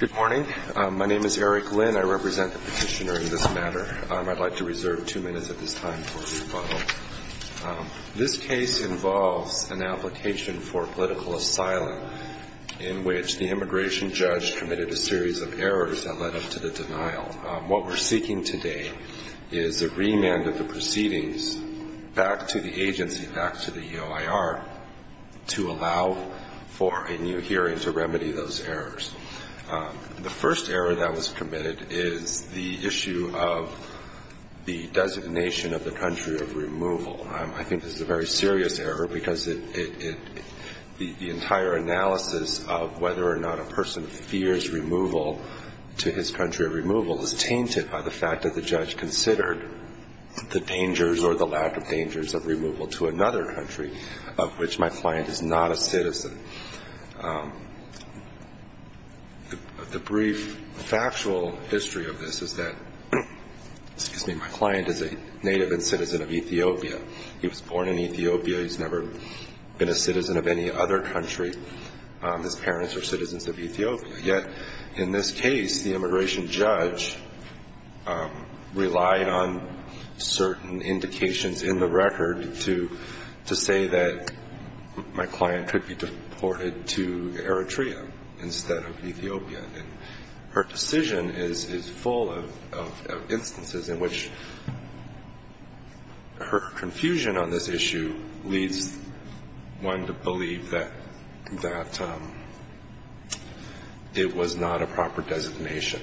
Good morning. My name is Eric Lynn. I represent the petitioner in this matter. I'd like to reserve two minutes at this time for a rebuttal. This case involves an application for political asylum in which the immigration judge committed a series of errors that led up to the denial. What we're seeking today is the remand of the proceedings back to the agency, back to the EOIR, to allow for a hearing to remedy those errors. The first error that was committed is the issue of the designation of the country of removal. I think this is a very serious error because the entire analysis of whether or not a person fears removal to his country of removal is tainted by the fact that the judge considered the dangers or the lack of dangers of removal to another country of which my client is not a citizen. The brief factual history of this is that excuse me, my client is a native and citizen of Ethiopia. He was born in Ethiopia. He's never been a citizen of any other country. His parents are citizens of Ethiopia. Yet in this case the immigration judge relied on certain indications in the record to say that my client could be deported to Eritrea instead of Ethiopia. Her decision is full of instances in which her confusion on this issue leads one to believe that it was not a proper designation.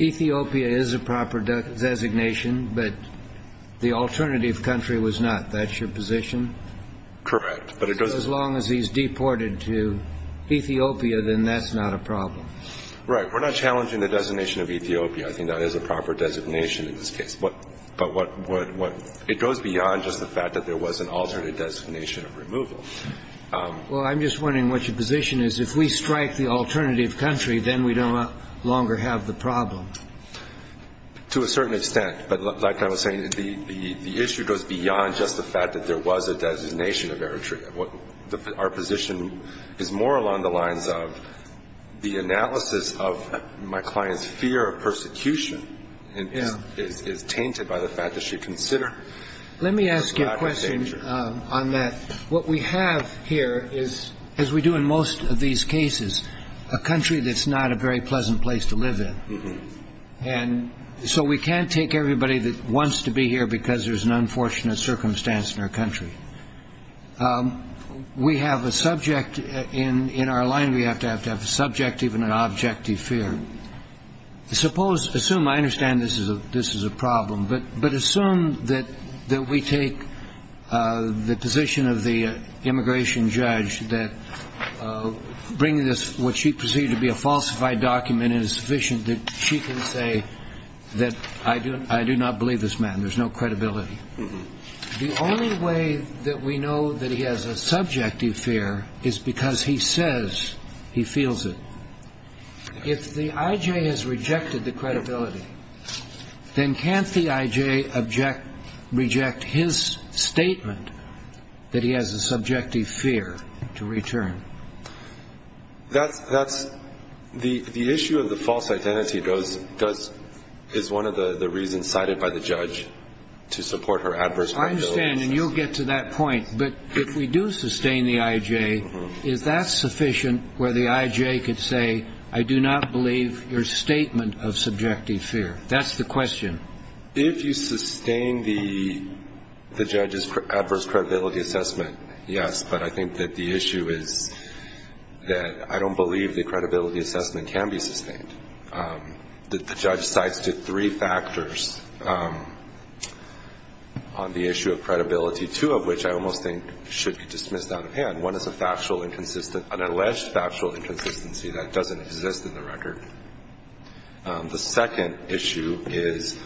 Ethiopia is a proper designation, but the alternative country was not. That's your position? Correct. But as long as he's deported to Ethiopia, then that's not a problem. Right. We're not challenging the designation of Ethiopia. I think that is a proper designation in this case. But it goes beyond just the fact that there was an alternate designation of removal. Well, I'm just wondering what your then we no longer have the problem. To a certain extent. But like I was saying, the issue goes beyond just the fact that there was a designation of Eritrea. Our position is more along the lines of the analysis of my client's fear of persecution is tainted by the fact that she considered it was not a danger. Let me ask you a question on that. What we have here is, as we do in most of these cases, a country that's not a very pleasant place to live in. And so we can't take everybody that wants to be here because there's an unfortunate circumstance in our country. We have a subject in in our line. We have to have to have a subject, even an objective fear. Suppose assume I understand this is a this is a problem, but but assume that that we take the position of the this, what she perceived to be a falsified document is sufficient that she can say that I do I do not believe this man. There's no credibility. The only way that we know that he has a subjective fear is because he says he feels it. If the IJ has rejected the credibility, then can't the IJ object reject his statement that he has a subjective fear to return? That's that's the the issue of the false identity goes does is one of the the reasons cited by the judge to support her adverse. I understand and you'll get to that point, but if we do sustain the IJ, is that sufficient where the IJ could say I do not believe your statement of subjective fear? That's the question. If you sustain the the judge's adverse credibility assessment, yes, but I think that the issue is that I don't believe the credibility assessment can be sustained. The judge cites to three factors on the issue of credibility, two of which I almost think should be dismissed out of hand. One is a factual inconsistent an alleged factual inconsistency that doesn't exist in the record. The second issue is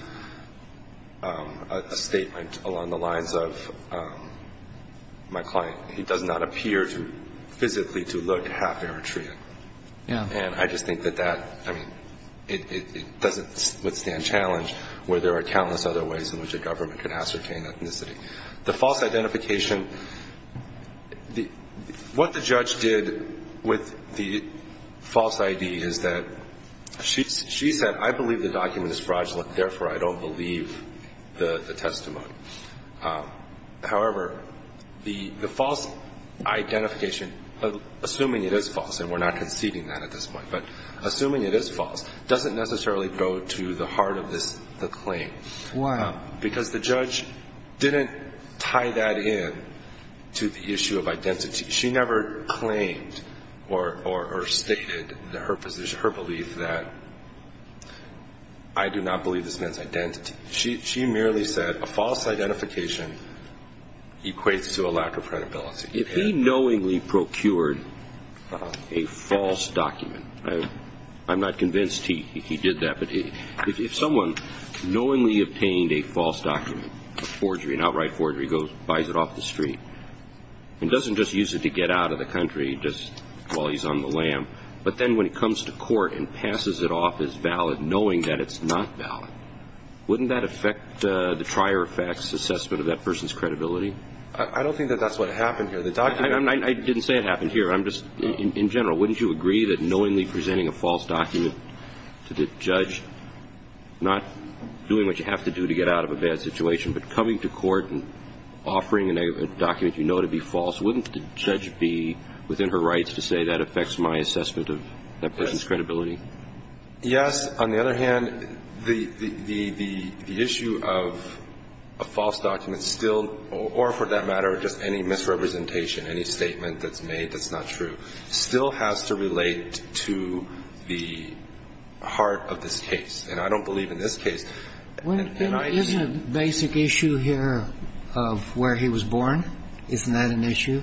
a statement along the lines of my client he does not appear to physically to look half-Eritrean. Yeah. And I just think that that I mean it doesn't withstand challenge where there are countless other ways in which a government can ascertain ethnicity. The false identification the what the judge did with the false ID is that she said I believe the document is fraudulent therefore I don't believe the the testimony. However, the the false identification of assuming it is false and we're not conceding that at this point, but assuming it is false doesn't necessarily go to the heart of this the claim. Wow. Because the judge didn't tie that in to the issue of identity. She never claimed or stated that her position, her belief that I do not believe this man's identity. She merely said a false identification equates to a lack of credibility. If he knowingly procured a false document, I'm not convinced he did that, but if someone knowingly obtained a false document, a forgery, an out-of-the-country just while he's on the lam, but then when it comes to court and passes it off as valid knowing that it's not valid, wouldn't that affect the trier-of-facts assessment of that person's credibility? I don't think that that's what happened here. I didn't say it happened here. I'm just in general wouldn't you agree that knowingly presenting a false document to the judge not doing what you have to do to get out of a bad situation, but coming to court and offering a document you know to be false, wouldn't the judge be within her rights to say that affects my assessment of that person's credibility? Yes. On the other hand, the issue of a false document still, or for that matter just any misrepresentation, any statement that's made that's not true, still has to relate to the heart of this case. And I don't believe in this case. Isn't the basic issue here of where he was born, isn't that an issue?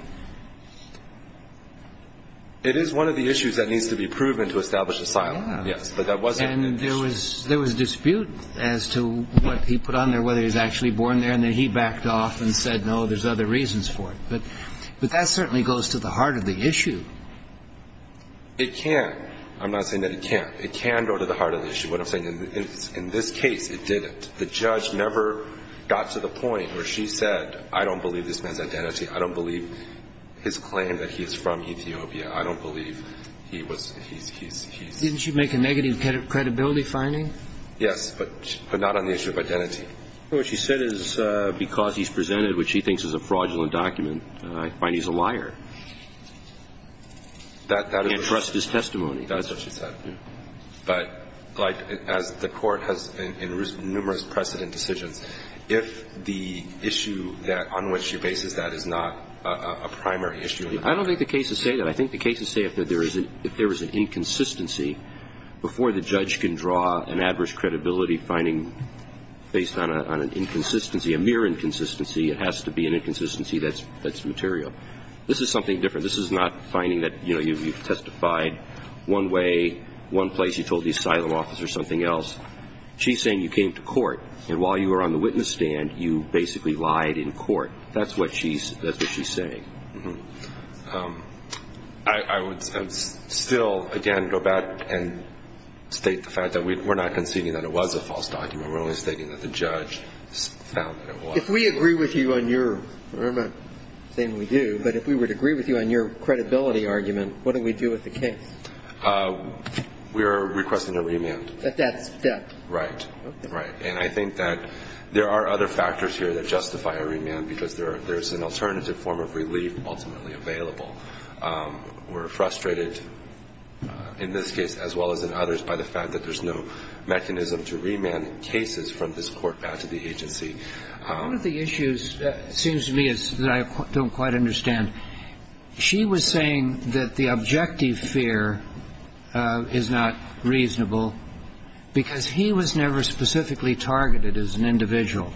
It is one of the issues that needs to be proven to establish asylum, yes. And there was a dispute as to what he put on there, whether he was actually born there, and then he backed off and said no, there's other reasons for it. But that certainly goes to the heart of the issue. It can. I'm not saying that it can't. It can go to the heart of the issue. What I'm saying, in this case, it didn't. The judge never got to the point where she said, I don't believe this man's identity. I don't believe his claim that he is from Ethiopia. I don't believe he was, he's, he's, he's... Didn't she make a negative credibility finding? Yes, but not on the issue of identity. What she said is because he's presented what she thinks is a fraudulent document, I find he's a liar. That, that is... Can't trust his testimony. That's what she said. But, like, as the Court has in numerous precedent decisions, if the issue that, on which she bases that is not a primary issue... I don't think the cases say that. I think the cases say that if there is an inconsistency, before the judge can draw an adverse credibility finding based on an inconsistency, a mere inconsistency, it has to be an inconsistency that's, that's material. This is something different. This is not finding that, you know, you've, you've testified one way, one place, you told the asylum officer something else. She's saying you came to court, and while you were on the witness stand, you basically lied in court. That's what she's, that's what she's saying. Mm-hm. I, I would still, again, go back and state the fact that we, we're not conceding that it was a false document. We're only stating that the judge found that it was. If we agree with you on your, I'm not saying we do, but if we would agree with you on your credibility argument, what do we do with the case? We are requesting a remand. At that step. Right. Right. And I think that there are other factors here that justify a remand, because there are, there's an alternative form of relief ultimately available. We're frustrated in this case as well as in others by the fact that there's no mechanism to remand cases from this court back to the agency. One of the issues that seems to me is, that I don't quite understand, she was saying that the objective fear is not reasonable because he was never specifically targeted as an individual.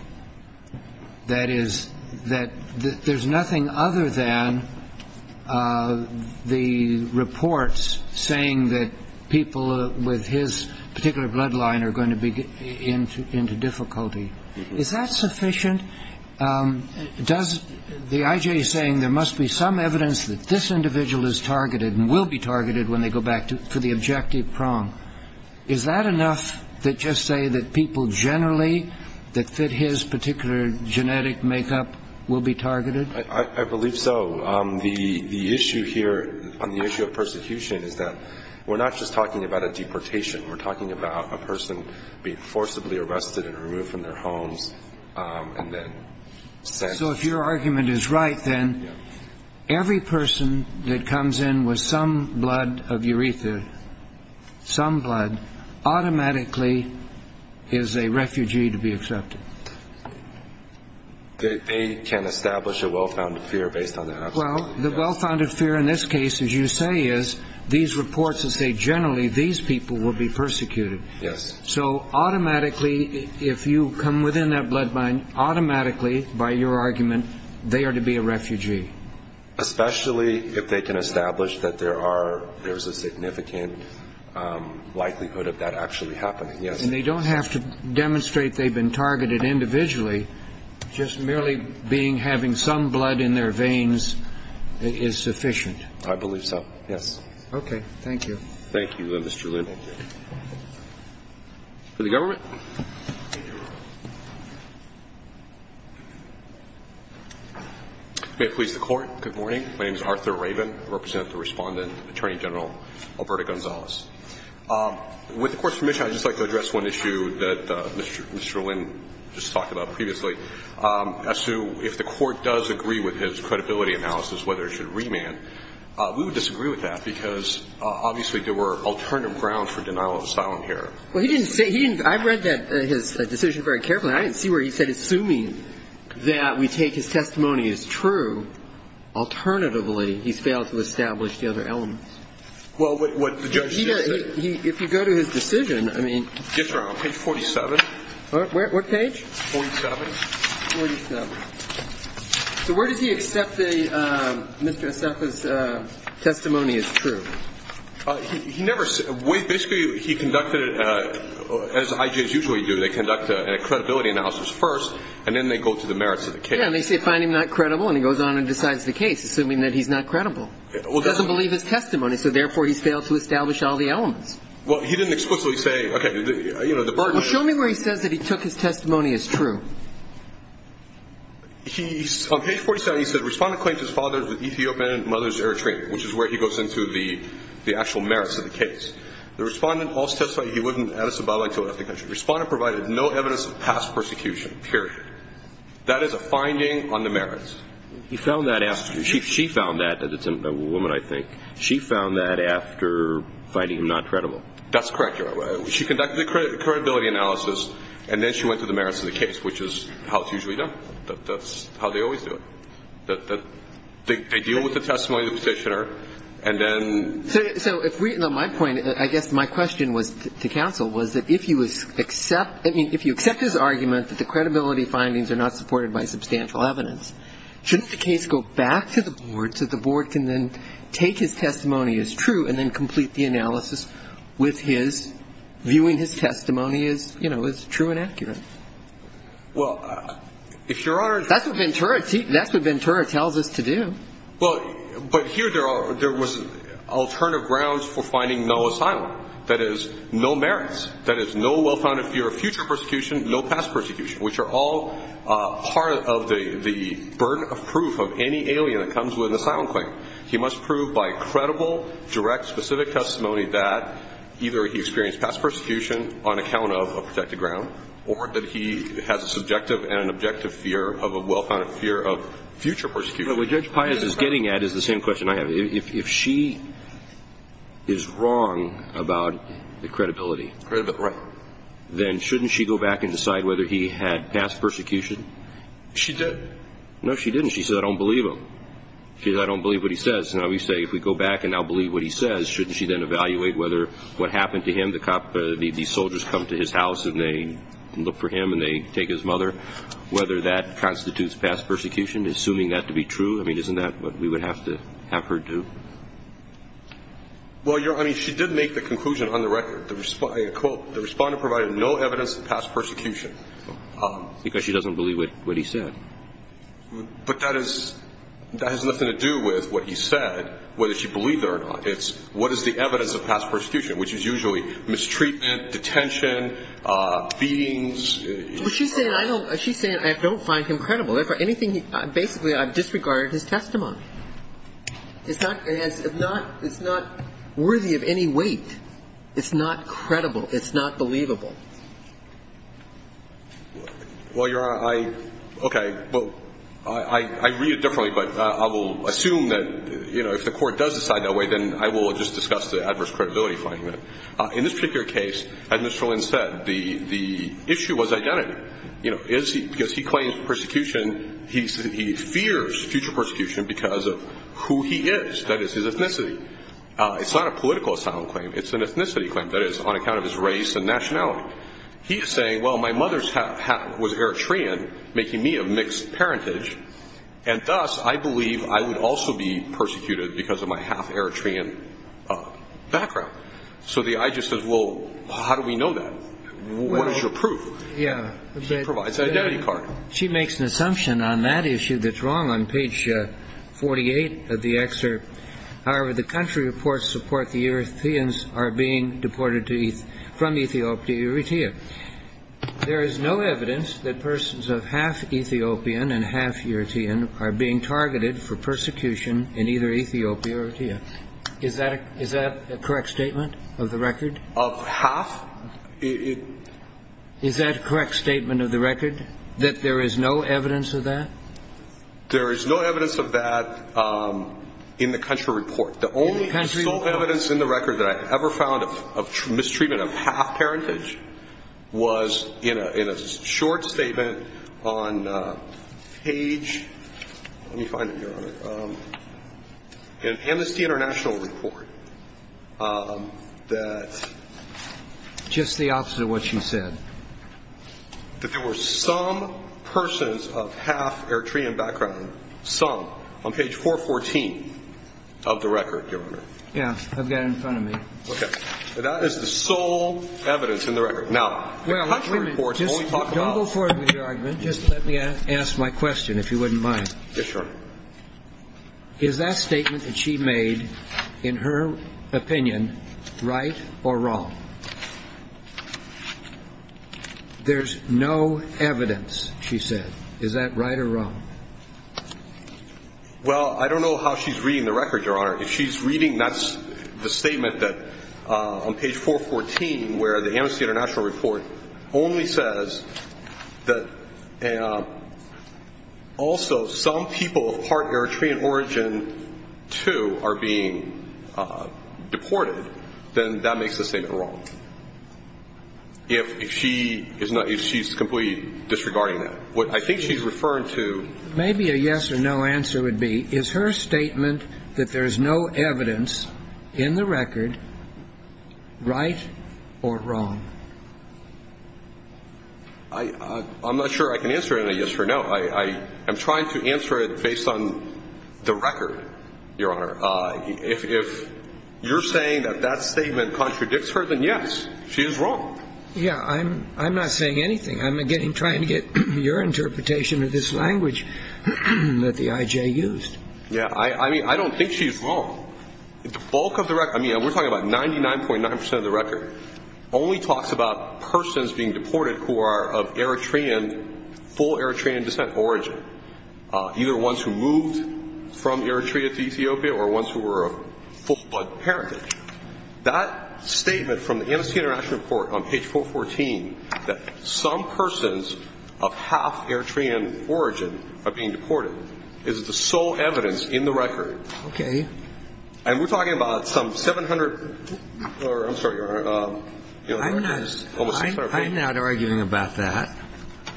That is, that there's nothing other than the reports saying that people with his particular bloodline are going to be in, into difficulty. Is that sufficient? Does the I.J. saying there must be some evidence that this individual is targeted and will be targeted when they go back to, for the objective prong, is that enough to just say that people generally that fit his particular genetic makeup will be targeted? I believe so. The issue here on the issue of persecution is that we're not just talking about a deportation. We're talking about a person being forcibly arrested and removed from their homes and then sent. So if your argument is right then, every person that comes in with some blood of urethra, some blood, automatically is a refugee to be accepted. They can establish a well-founded fear based on that. Well, the well-founded fear in this case, as you say, is these reports that say generally these people will be persecuted. Yes. So automatically, if you come within that bloodline, automatically, by your argument, they are to be a refugee. Especially if they can establish that there are, there's a significant likelihood of that actually happening, yes. And they don't have to demonstrate they've been targeted individually. Just merely being, having some blood in their veins is sufficient. I believe so, yes. Okay, thank you. Thank you, Mr. Lin. For the government. May it please the Court. Good morning. My name is Arthur Rabin. I represent the Respondent, Attorney General Alberto Gonzalez. With the Court's permission, I'd just like to address one issue that Mr. Lin just talked about previously, as to if the Court does agree with his credibility analysis, whether it should remand. We would disagree with that because, obviously, there were alternative grounds for denial of asylum here. Well, he didn't say, he didn't, I read that, his decision very carefully. I didn't see where he said, assuming that we take his testimony as true, alternatively, he's failed to establish the other elements. Well, what the judge did. He, if you go to his decision, I mean. Just around page 47. What page? 47. 47. So where does he accept that Mr. Asefa's testimony is true? He never, basically, he conducted, as IJs usually do, they conduct a credibility analysis first, and then they go to the merits of the case. Yeah, and they say, find him not credible, and he goes on and decides the case, assuming that he's not credible. He doesn't believe his testimony, so therefore he's failed to establish all the elements. Well, he didn't explicitly say, okay, you know, the burden. Well, show me where he says that he took his testimony as true. He, on page 47, he said, respondent claims his father is an Ethiopian and mother's Eritrean, which is where he goes into the actual merits of the case. The respondent also testified he wasn't Addis Ababa until after the country. Respondent provided no evidence of past persecution, period. That is a finding on the merits. He found that after, she found that, it's a woman, I think, she found that after finding him not credible. That's correct, Your Honor. So she conducted the credibility analysis, and then she went to the merits of the case, which is how it's usually done. That's how they always do it. They deal with the testimony of the petitioner, and then. So if we, on my point, I guess my question to counsel was that if you accept, I mean, if you accept his argument that the credibility findings are not supported by substantial evidence, shouldn't the case go back to the board, so the board can then take his testimony as true and then complete the analysis with his viewing his testimony as true and accurate? Well, if Your Honor. That's what Ventura tells us to do. Well, but here there was alternative grounds for finding no asylum. That is, no merits. That is, no well-founded fear of future persecution, no past persecution, which are all part of the burden of proof of any alien that comes with an asylum claim. He must prove by credible, direct, specific testimony that either he experienced past persecution on account of a protected ground or that he has a subjective and an objective fear of a well-founded fear of future persecution. What Judge Pius is getting at is the same question I have. If she is wrong about the credibility. Right. Then shouldn't she go back and decide whether he had past persecution? She did. No, she didn't. She said, I don't believe him. She said, I don't believe what he says. Now we say, if we go back and now believe what he says, shouldn't she then evaluate whether what happened to him, the soldiers come to his house and they look for him and they take his mother, whether that constitutes past persecution? Assuming that to be true, I mean, isn't that what we would have to have her do? Well, Your Honor, she did make the conclusion on the record. I quote, the respondent provided no evidence of past persecution. Because she doesn't believe what he said. But that has nothing to do with what he said, whether she believed it or not. It's what is the evidence of past persecution, which is usually mistreatment, detention, beatings. She's saying I don't find him credible. Basically, I've disregarded his testimony. It's not worthy of any weight. It's not credible. It's not believable. Well, Your Honor, I, okay, well, I read it differently, but I will assume that, you know, if the Court does decide that way, then I will just discuss the adverse credibility finding. In this particular case, as Mr. Lin said, the issue was identity. You know, is he, because he claims persecution, he fears future persecution because of who he is, that is, his ethnicity. It's not a political asylum claim. It's an ethnicity claim, that is, on account of his race and nationality. He is saying, well, my mother's hat was Eritrean, making me of mixed parentage, and thus I believe I would also be persecuted because of my half-Eritrean background. So the IGES says, well, how do we know that? What is your proof? He provides an identity card. She makes an assumption on that issue that's wrong on page 48 of the excerpt. However, the country reports support the Eritreans are being deported from Ethiopia to Eritrea. There is no evidence that persons of half-Ethiopian and half-Eritrean are being targeted for persecution in either Ethiopia or Eritrea. Is that a correct statement of the record? Of half? Is that a correct statement of the record, that there is no evidence of that? There is no evidence of that in the country report. In the country report? The only evidence in the record that I ever found of mistreatment of half-parentage was in a short statement on page, let me find it, Your Honor, in Amnesty International report that... Just the opposite of what she said. That there were some persons of half-Eritrean background, some, on page 414 of the record, Your Honor. Yeah, I've got it in front of me. Okay. That is the sole evidence in the record. Now, the country reports only talk about... Don't go forward with your argument. Just let me ask my question, if you wouldn't mind. Yeah, sure. Is that statement that she made, in her opinion, right or wrong? There's no evidence, she said. Is that right or wrong? Well, I don't know how she's reading the record, Your Honor. If she's reading the statement on page 414 where the Amnesty International report only says that also some people of part Eritrean origin, too, are being deported, then that makes the statement wrong. If she's completely disregarding that. What I think she's referring to... Maybe a yes or no answer would be, is her statement that there's no evidence in the record right or wrong? I'm not sure I can answer it in a yes or no. I'm trying to answer it based on the record, Your Honor. If you're saying that that statement contradicts her, then yes, she is wrong. Yeah, I'm not saying anything. I'm trying to get your interpretation of this language that the I.J. used. Yeah, I mean, I don't think she's wrong. The bulk of the record... I mean, we're talking about 99.9 percent of the record only talks about persons being deported who are of full Eritrean descent origin, either ones who moved from Eritrea to Ethiopia or ones who were of full-blood heritage. That statement from the Amnesty International report on page 414, that some persons of half Eritrean origin are being deported, is the sole evidence in the record. Okay. And we're talking about some 700... I'm sorry, Your Honor. I'm not arguing about that.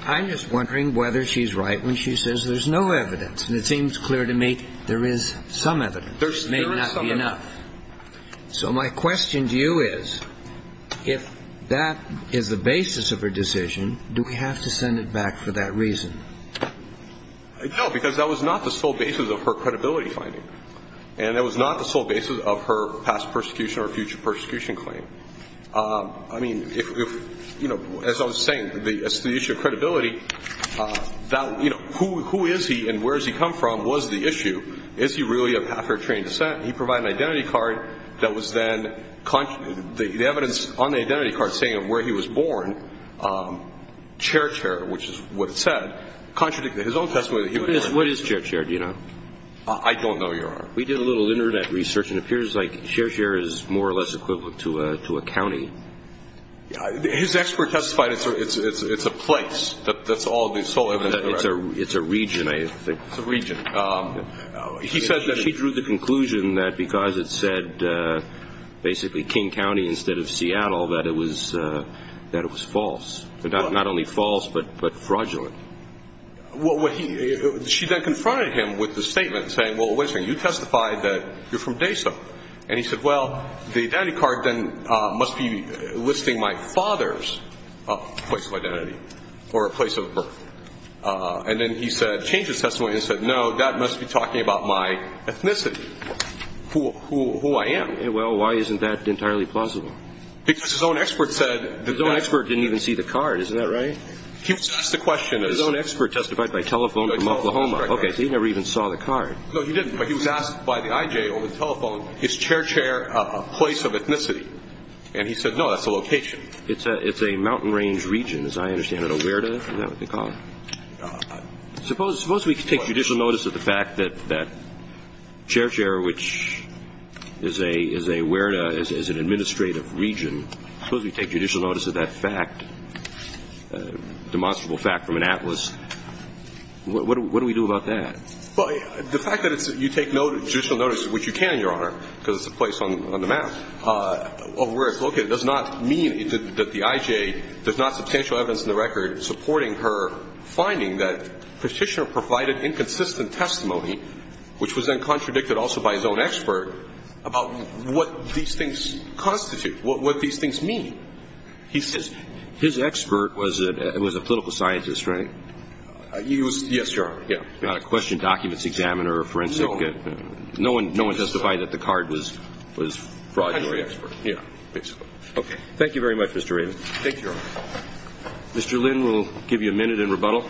I'm just wondering whether she's right when she says there's no evidence. And it seems clear to me there is some evidence. There is some evidence. It may not be enough. So my question to you is, if that is the basis of her decision, do we have to send it back for that reason? No, because that was not the sole basis of her credibility finding. And that was not the sole basis of her past persecution or future persecution claim. I mean, if, you know, as I was saying, the issue of credibility, that, you know, who is he and where does he come from was the issue. Is he really of half Eritrean descent? He provided an identity card that was then, the evidence on the identity card saying of where he was born, Cher Cher, which is what it said, contradicted his own testimony. What is Cher Cher, do you know? I don't know, Your Honor. We did a little Internet research and it appears like Cher Cher is more or less equivalent to a county. His expert testified it's a place. That's all the sole evidence. It's a region, I think. It's a region. She drew the conclusion that because it said basically King County instead of Seattle, that it was false. Not only false, but fraudulent. She then confronted him with the statement saying, well, wait a second, you testified that you're from DASA. And he said, well, the identity card then must be listing my father's place of identity or place of birth. And then he said, changed his testimony and said, no, that must be talking about my ethnicity, who I am. Well, why isn't that entirely plausible? Because his own expert said. His own expert didn't even see the card. Isn't that right? He was asked the question. His own expert testified by telephone from Oklahoma. Okay, so he never even saw the card. No, he didn't. But he was asked by the IJ over the telephone, is Cher Cher a place of ethnicity? And he said, no, that's a location. It's a mountain range region, as I understand it. A WERDA, is that what they call it? Suppose we take judicial notice of the fact that Cher Cher, which is a WERDA, is an administrative region. Suppose we take judicial notice of that fact, demonstrable fact from an atlas. What do we do about that? Well, the fact that you take judicial notice, which you can, Your Honor, because it's a place on the map, of where it's located, does not mean that the IJ does not have substantial evidence in the record supporting her finding that Petitioner provided inconsistent testimony, which was then contradicted also by his own expert about what these things constitute, what these things mean. His expert was a political scientist, right? Yes, Your Honor, yeah. Not a question documents examiner or forensic. No one testified that the card was fraudulent. Yeah, basically. Okay. Thank you very much, Mr. Raven. Thank you, Your Honor. Mr. Lynn will give you a minute in rebuttal.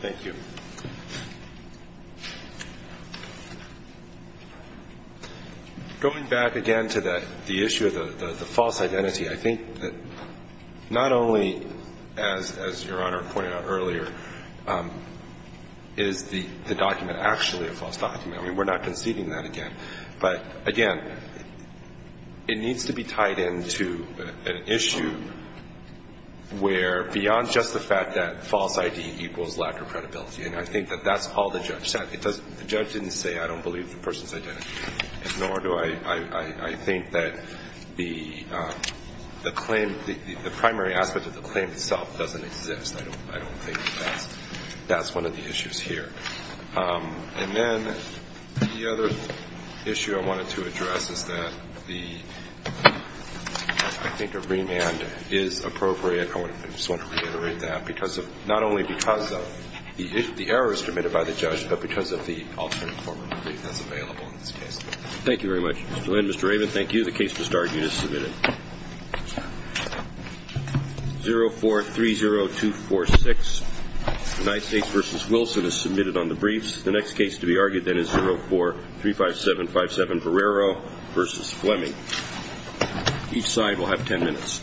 Thank you. Going back again to the issue of the false identity, I think that not only, as Your Honor pointed out earlier, is the document actually a false document. I mean, we're not conceding that again. But, again, it needs to be tied into an issue where, beyond just the fact that false ID equals lack of credibility, and I think that that's all the judge said. The judge didn't say I don't believe the person's identity, nor do I think that the claim, the primary aspect of the claim itself doesn't exist. I don't think that that's one of the issues here. And then the other issue I wanted to address is that I think a remand is appropriate. I just want to reiterate that, not only because the error is committed by the judge, but because of the alternative form of relief that's available in this case. Thank you very much. Mr. Lynn, Mr. Raven, thank you. The case to start is submitted. 0430246, United States v. Wilson is submitted on the briefs. The next case to be argued, then, is 0435757, Ferrero v. Fleming. Each side will have ten minutes.